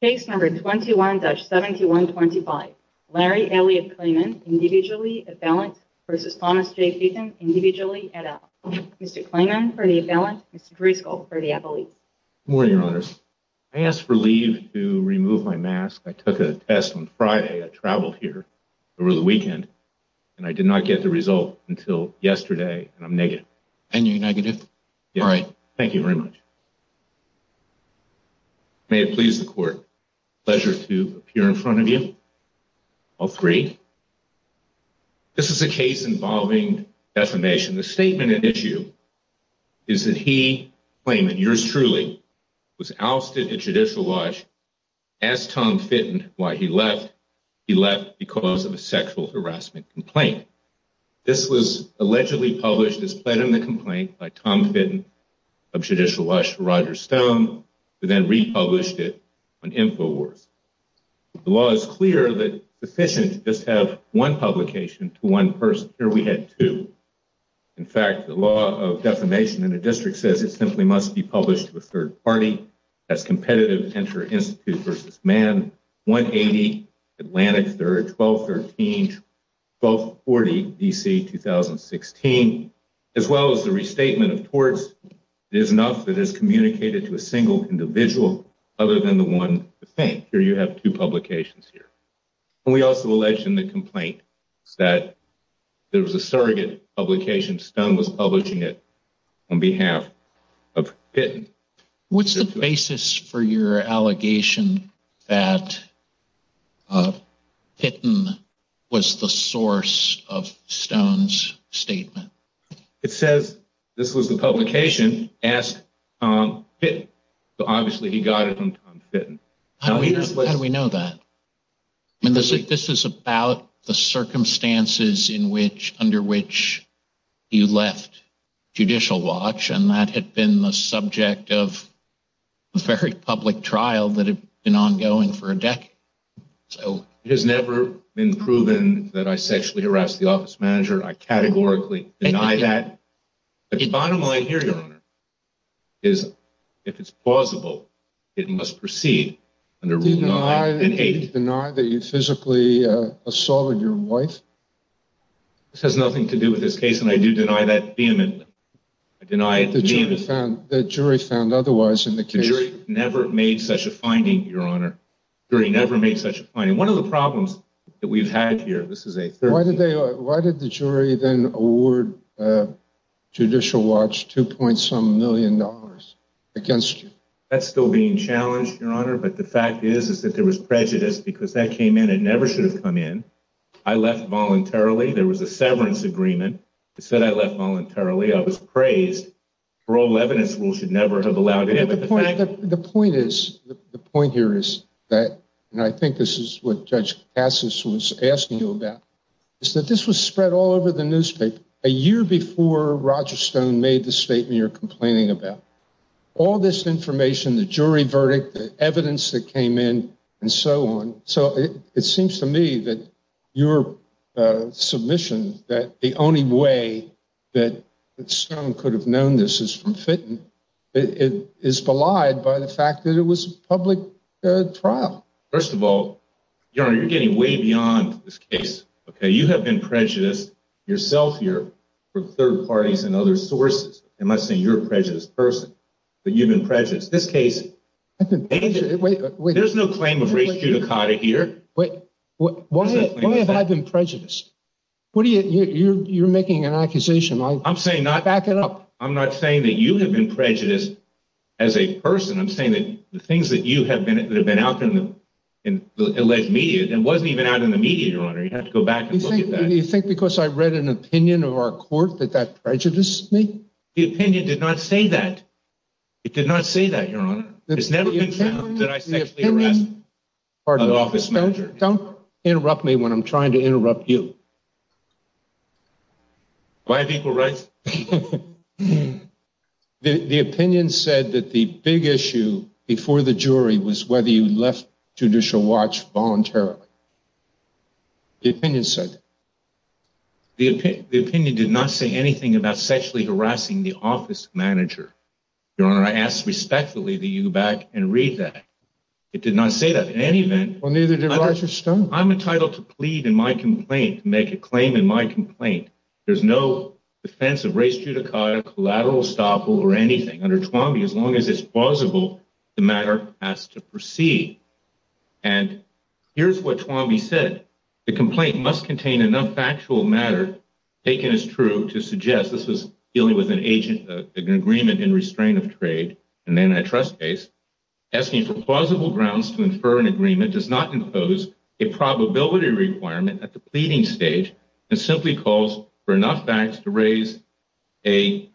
Case No. 21-7125 Larry Elliott Klayman, individually, at balance, v. Thomas J. Fitton, individually, at out. Mr. Klayman, for the at balance. Mr. Driscoll, for the at police. Good morning, Your Honors. I asked for leave to remove my mask. I took a test on Friday. I traveled here over the weekend, and I did not get the result until yesterday, and I'm negative. And you're negative? Yes. All right. Thank you very much. May it please the Court. Pleasure to appear in front of you, all three. This is a case involving defamation. The statement at issue is that he, Klayman, yours truly, was ousted at judicial watch, asked Tom Fitton why he left. He left because of a sexual harassment complaint. This was allegedly published as part of the complaint by Tom Fitton of judicial watch for Roger Stone, who then republished it on InfoWars. The law is clear that it's sufficient to just have one publication to one person. Here we had two. In fact, the law of defamation in the district says it simply must be published to a third party as competitive, enter institute versus man, 180 Atlantic Third, 1213, 1240 D.C., 2016, as well as the restatement of torts. It is enough that it is communicated to a single individual other than the one defamed. Here you have two publications here. We also alleged in the complaint that there was a surrogate publication. Stone was publishing it on behalf of Fitton. What's the basis for your allegation that Fitton was the source of Stone's statement? It says this was the publication asked Tom Fitton. Obviously, he got it from Tom Fitton. How do we know that? This is about the circumstances in which under which you left judicial watch. And that had been the subject of a very public trial that had been ongoing for a decade. So it has never been proven that I sexually harassed the office manager. I categorically deny that. The bottom line here, Your Honor, is if it's plausible, it must proceed under the law. I deny that you physically assaulted your wife. This has nothing to do with this case, and I do deny that vehemently. I deny it vehemently. The jury found otherwise in the case. The jury never made such a finding, Your Honor. The jury never made such a finding. One of the problems that we've had here, this is a third. Why did the jury then award Judicial Watch two point some million dollars against you? That's still being challenged, Your Honor. But the fact is, is that there was prejudice because that came in. It never should have come in. I left voluntarily. There was a severance agreement that said I left voluntarily. I was praised. Parole evidence rule should never have allowed it. The point is, the point here is that, and I think this is what Judge Cassis was asking you about, is that this was spread all over the newspaper a year before Roger Stone made the statement you're complaining about. All this information, the jury verdict, the evidence that came in and so on. So it seems to me that your submission that the only way that Stone could have known this is from Fenton is belied by the fact that it was a public trial. First of all, Your Honor, you're getting way beyond this case. You have been prejudiced yourself here from third parties and other sources. I'm not saying you're a prejudiced person, but you've been prejudiced. There's no claim of race judicata here. Why have I been prejudiced? You're making an accusation. Back it up. I'm not saying that you have been prejudiced as a person. I'm saying that the things that you have been out in the alleged media wasn't even out in the media, Your Honor. You have to go back and look at that. You think because I read an opinion of our court that that prejudiced me? The opinion did not say that. It did not say that, Your Honor. It's never been found that I sexually harassed an office manager. Don't interrupt me when I'm trying to interrupt you. Why have equal rights? The opinion said that the big issue before the jury was whether you left Judicial Watch voluntarily. The opinion said that. The opinion did not say anything about sexually harassing the office manager. Your Honor, I ask respectfully that you go back and read that. It did not say that in any event. Well, neither did Roger Stone. I'm entitled to plead in my complaint, to make a claim in my complaint. There's no defense of race judicata, collateral estoppel, or anything under Twombly as long as it's plausible the matter has to proceed. And here's what Twombly said. The complaint must contain enough factual matter taken as true to suggest this is dealing with an agent agreement in restraint of trade and antitrust case. Asking for plausible grounds to infer an agreement does not impose a probability requirement at the pleading stage. It simply calls for enough facts to raise a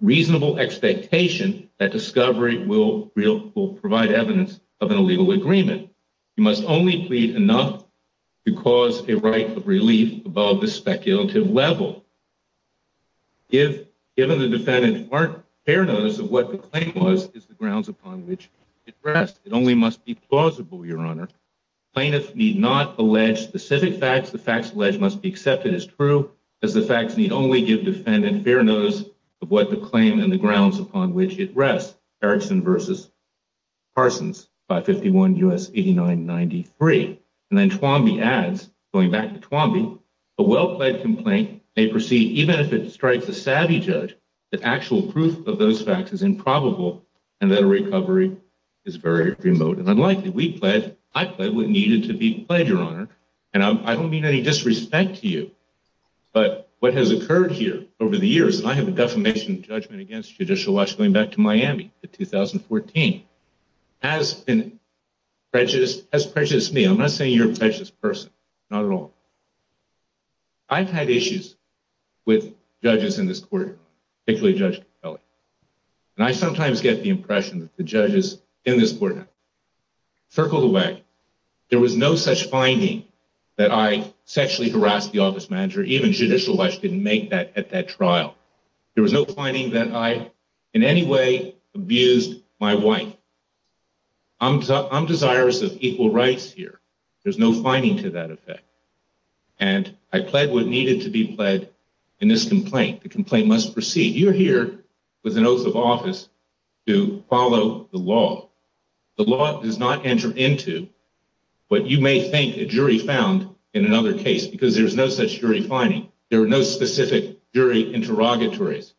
reasonable expectation that discovery will provide evidence of an illegal agreement. You must only plead enough to cause a right of relief above the speculative level. Given the defendant's fair notice of what the claim was is the grounds upon which it rests. It only must be plausible, Your Honor. Plaintiffs need not allege specific facts. The facts alleged must be accepted as true, as the facts need only give defendant fair notice of what the claim and the grounds upon which it rests. Erickson v. Parsons, 551 U.S. 8993. And then Twombly adds, going back to Twombly, a well-pledged complaint may proceed even if it strikes a savvy judge that actual proof of those facts is improbable and that a recovery is very remote and unlikely. We pledged. I pledged what needed to be pledged, Your Honor. And I don't mean any disrespect to you, but what has occurred here over the years, and I have a defamation judgment against Judicial Watch going back to Miami in 2014, has prejudiced me. I'm not saying you're a prejudiced person. Not at all. I've had issues with judges in this courtroom, particularly Judge Capelli. And I sometimes get the impression that the judges in this court have circled away. There was no such finding that I sexually harassed the office manager. Even Judicial Watch didn't make that at that trial. There was no finding that I in any way abused my wife. I'm desirous of equal rights here. There's no finding to that effect. And I pled what needed to be pled in this complaint. The complaint must proceed. You're here with an oath of office to follow the law. The law does not enter into what you may think a jury found in another case because there's no such jury finding. There are no specific jury interrogatories.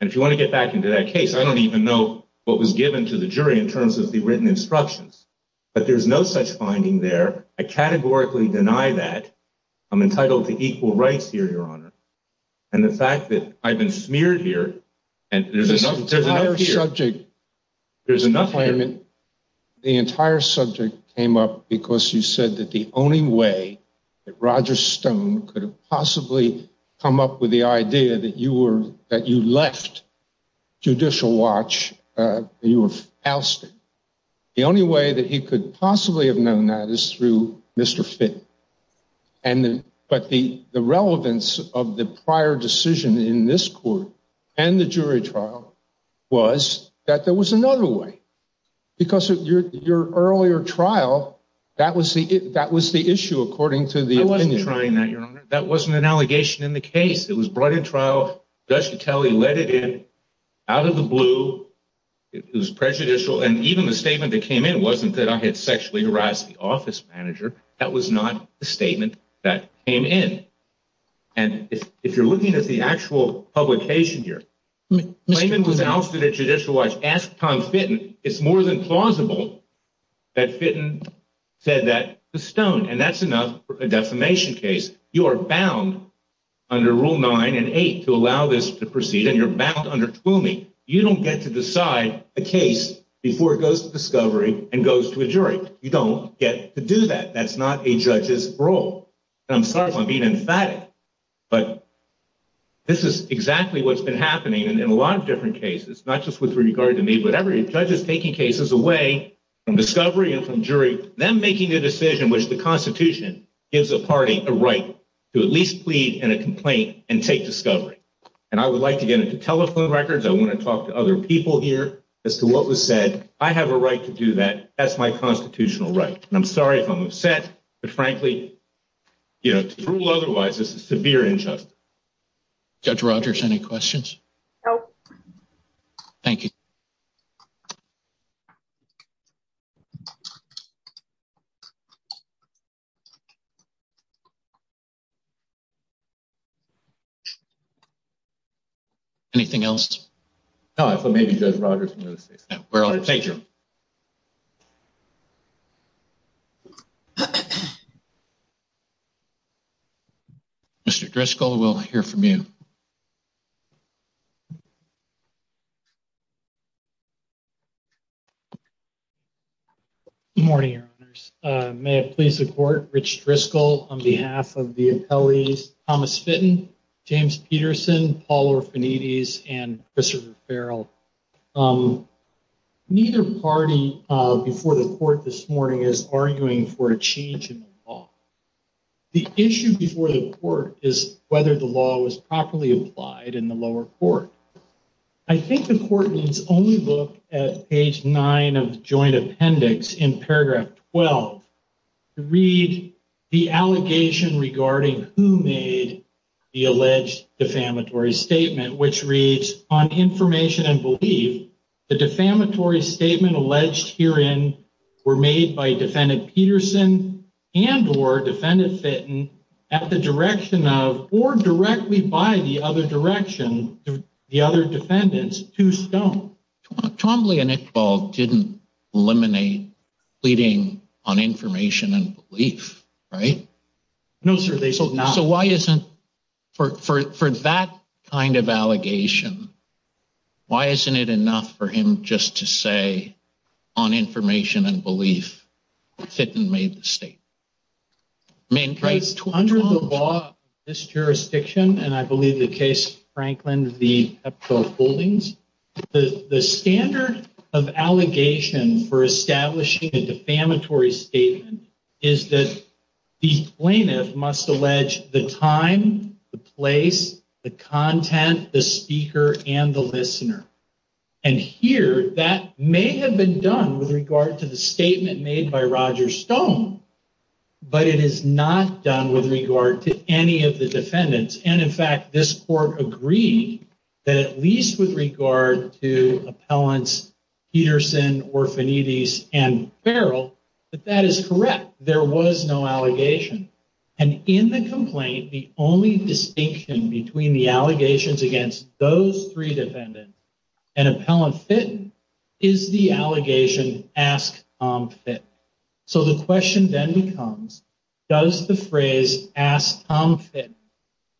And if you want to get back into that case, I don't even know what was given to the jury in terms of the written instructions. But there's no such finding there. I categorically deny that. I'm entitled to equal rights here, Your Honor. And the fact that I've been smeared here and there's another here. There's another here. The entire subject came up because you said that the only way that Roger Stone could have possibly come up with the idea that you left Judicial Watch, you were ousted. The only way that he could possibly have known that is through Mr. Fitton. But the relevance of the prior decision in this court and the jury trial was that there was another way. Because your earlier trial, that was the issue according to the opinion. I wasn't trying that, Your Honor. That wasn't an allegation in the case. It was brought in trial. Judge Catelli let it in out of the blue. It was prejudicial. And even the statement that came in wasn't that I had sexually harassed the office manager. That was not the statement that came in. And if you're looking at the actual publication here, Mr. Fitton was ousted at Judicial Watch. Ask Tom Fitton. It's more than plausible that Fitton said that to Stone. And that's enough for a defamation case. You are bound under Rule 9 and 8 to allow this to proceed, and you're bound under Twomey. You don't get to decide a case before it goes to discovery and goes to a jury. You don't get to do that. That's not a judge's role. And I'm sorry if I'm being emphatic, but this is exactly what's been happening in a lot of different cases, not just with regard to me, but every judge is taking cases away from discovery and from jury, them making a decision which the Constitution gives a party a right to at least plead in a complaint and take discovery. And I would like to get into telephone records. I want to talk to other people here as to what was said. I have a right to do that. That's my constitutional right. And I'm sorry if I'm upset, but, frankly, you know, to rule otherwise is a severe injustice. Judge Rogers, any questions? No. Thank you. Anything else? No. Thank you. Mr. Driscoll, we'll hear from you. Good morning, Your Honors. May it please the Court, Rich Driscoll on behalf of the appellees, Thomas Fitton, James Peterson, Paul Orfanides, and Christopher Farrell. Neither party before the Court this morning is arguing for a change in the law. The issue before the Court is whether the law was properly applied in the lower court. I think the Court needs only look at page 9 of the joint appendix in paragraph 12 to read the allegation regarding who made the alleged defamatory statement, which reads, On information and belief, the defamatory statement alleged herein were made by Defendant Peterson and or Defendant Fitton at the direction of or directly by the other direction, the other defendants, to Stone. Twombly and Iqbal didn't eliminate pleading on information and belief, right? No, sir, they said not. So why isn't, for that kind of allegation, why isn't it enough for him just to say, On information and belief, Fitton made the statement? Under the law of this jurisdiction, and I believe the case of Franklin v. Pepto Holdings, the standard of allegation for establishing a defamatory statement is that the plaintiff must allege the time, the place, the content, the speaker, and the listener. And here, that may have been done with regard to the statement made by Roger Stone, but it is not done with regard to any of the defendants. And in fact, this Court agreed that at least with regard to Appellants Peterson, Orfanides, and Farrell, that that is correct. There was no allegation. And in the complaint, the only distinction between the allegations against those three defendants and Appellant Fitton is the allegation, Ask Tom Fitton. So the question then becomes, does the phrase, Ask Tom Fitton,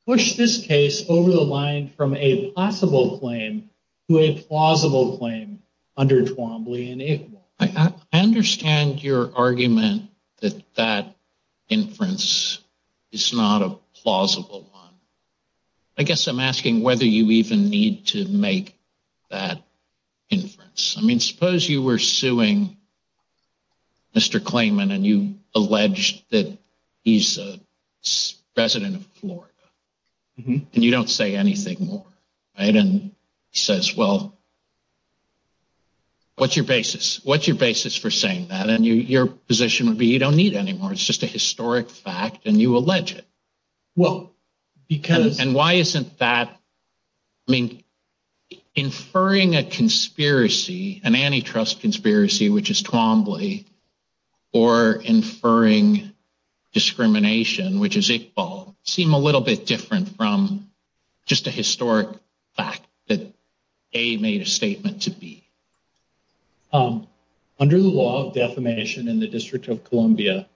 push this case over the line from a possible claim to a plausible claim under Twombly and Iqbal? I understand your argument that that inference is not a plausible one. I guess I'm asking whether you even need to make that inference. I mean, suppose you were suing Mr. Clayman and you alleged that he's a resident of Florida and you don't say anything more. And he says, well, what's your basis? What's your basis for saying that? And your position would be you don't need any more. It's just a historic fact, and you allege it. And why isn't that? I mean, inferring a conspiracy, an antitrust conspiracy, which is Twombly, or inferring discrimination, which is Iqbal, seem a little bit different from just a historic fact that A made a statement to B. Under the law of defamation in the District of Columbia,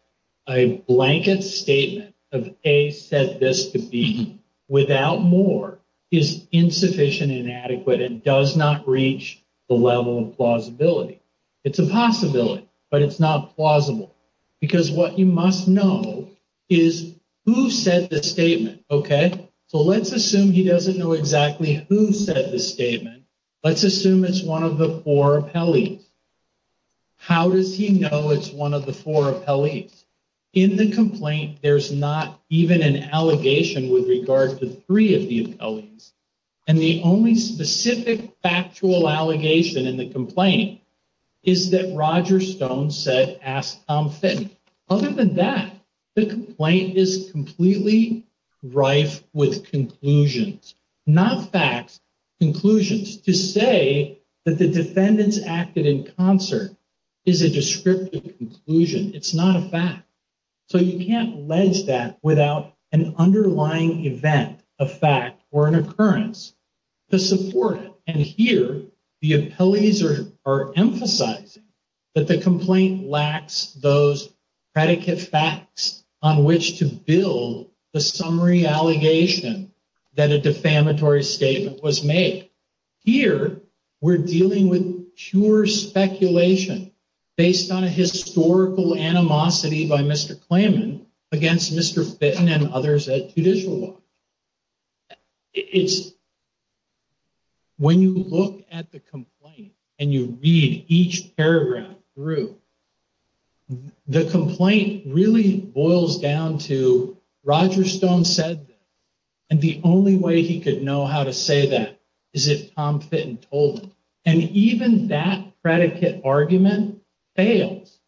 a blanket statement of A said this to B without more is insufficient, inadequate, and does not reach the level of plausibility. It's a possibility, but it's not plausible. Because what you must know is who said the statement. OK, so let's assume he doesn't know exactly who said the statement. Let's assume it's one of the four appellees. How does he know it's one of the four appellees? In the complaint, there's not even an allegation with regard to three of the appellees. And the only specific factual allegation in the complaint is that Roger Stone said, ask Tom Fitton. Other than that, the complaint is completely rife with conclusions, not facts, conclusions. To say that the defendants acted in concert is a descriptive conclusion. It's not a fact. So you can't allege that without an underlying event, a fact, or an occurrence to support it. And here, the appellees are emphasizing that the complaint lacks those predicate facts on which to build the summary allegation that a defamatory statement was made. Here, we're dealing with pure speculation based on a historical animosity by Mr. Klayman against Mr. Fitton and others at Judicial Law. When you look at the complaint and you read each paragraph through, the complaint really boils down to Roger Stone said that. And the only way he could know how to say that is if Tom Fitton told him. And even that predicate argument fails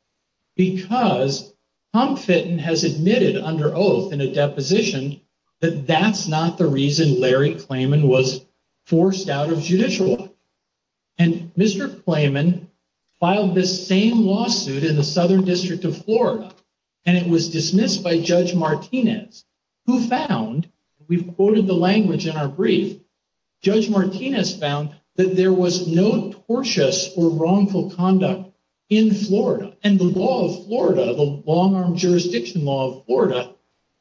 because Tom Fitton has admitted under oath in a deposition that that's not the reason Larry Klayman was forced out of Judicial Law. And Mr. Klayman filed this same lawsuit in the Southern District of Florida. And it was dismissed by Judge Martinez, who found, we've quoted the language in our brief, Judge Martinez found that there was no tortious or wrongful conduct in Florida. And the law of Florida, the long-arm jurisdiction law of Florida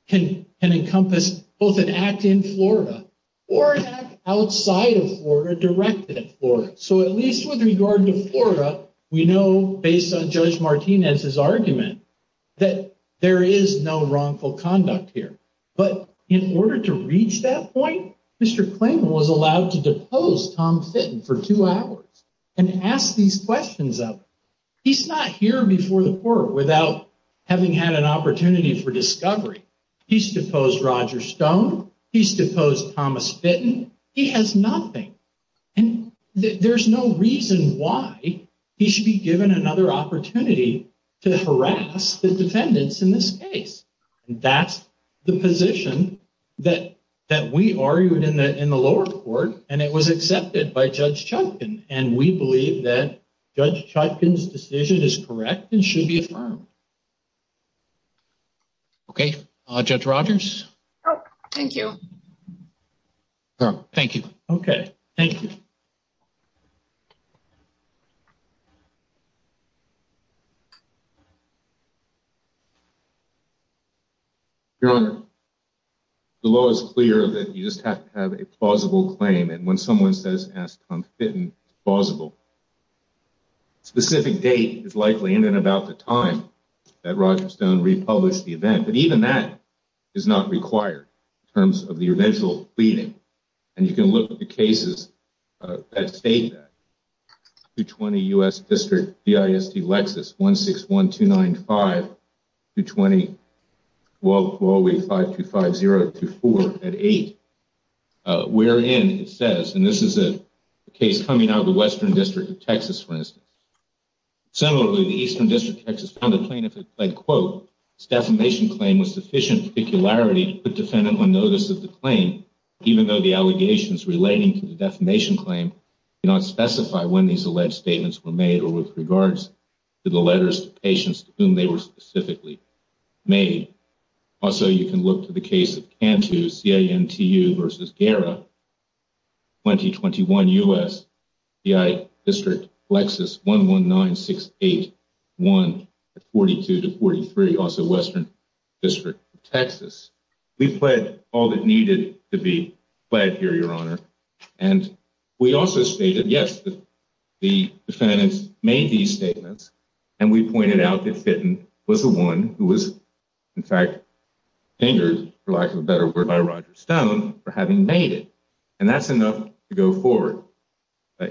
can encompass both an act in Florida or an act outside of Florida directed at Florida. So at least with regard to Florida, we know based on Judge Martinez's argument that there is no wrongful conduct here. But in order to reach that point, Mr. Klayman was allowed to depose Tom Fitton for two hours and ask these questions of him. He's not here before the court without having had an opportunity for discovery. He's deposed Roger Stone. He's deposed Thomas Fitton. He has nothing. And there's no reason why he should be given another opportunity to harass the defendants in this case. And that's the position that we argued in the lower court. And it was accepted by Judge Chodkin. And we believe that Judge Chodkin's decision is correct and should be affirmed. Okay. Judge Rogers? Thank you. Thank you. Okay. Thank you. Your Honor, the law is clear that you just have to have a plausible claim. And when someone says, ask Tom Fitton, it's plausible. A specific date is likely in and about the time that Roger Stone republished the event. But even that is not required in terms of the eventual pleading. And you can look at the cases that state that. And this is a case coming out of the Western District of Texas, for instance. Even though the allegations relating to the defamation claim do not specify when these alleged statements were made or with regards to the letters to patients to whom they were specifically made. Also, you can look to the case of Cantu, C-A-N-T-U v. Guerra, 2021 U.S. C-I District, Lexus, 119681, 42-43, also Western District of Texas. We pled all that needed to be pled here, Your Honor. And we also stated, yes, the defendants made these statements. And we pointed out that Fitton was the one who was, in fact, angered, for lack of a better word, by Roger Stone for having made it. And that's enough to go forward.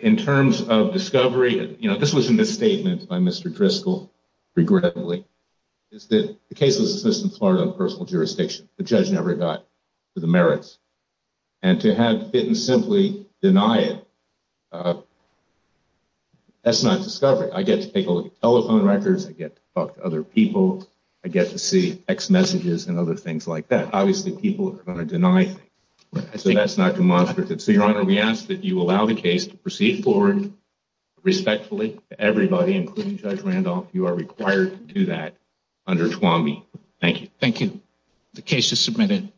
In terms of discovery, you know, this was a misstatement by Mr. Driscoll, regrettably, is that the case was dismissed in Florida on personal jurisdiction. The judge never got to the merits. And to have Fitton simply deny it, that's not discovery. I get to take a look at telephone records. I get to talk to other people. I get to see text messages and other things like that. Obviously, people are going to deny things. So that's not demonstrative. So, Your Honor, we ask that you allow the case to proceed forward respectfully to everybody, including Judge Randolph. You are required to do that under TWAMI. Thank you. The case is submitted.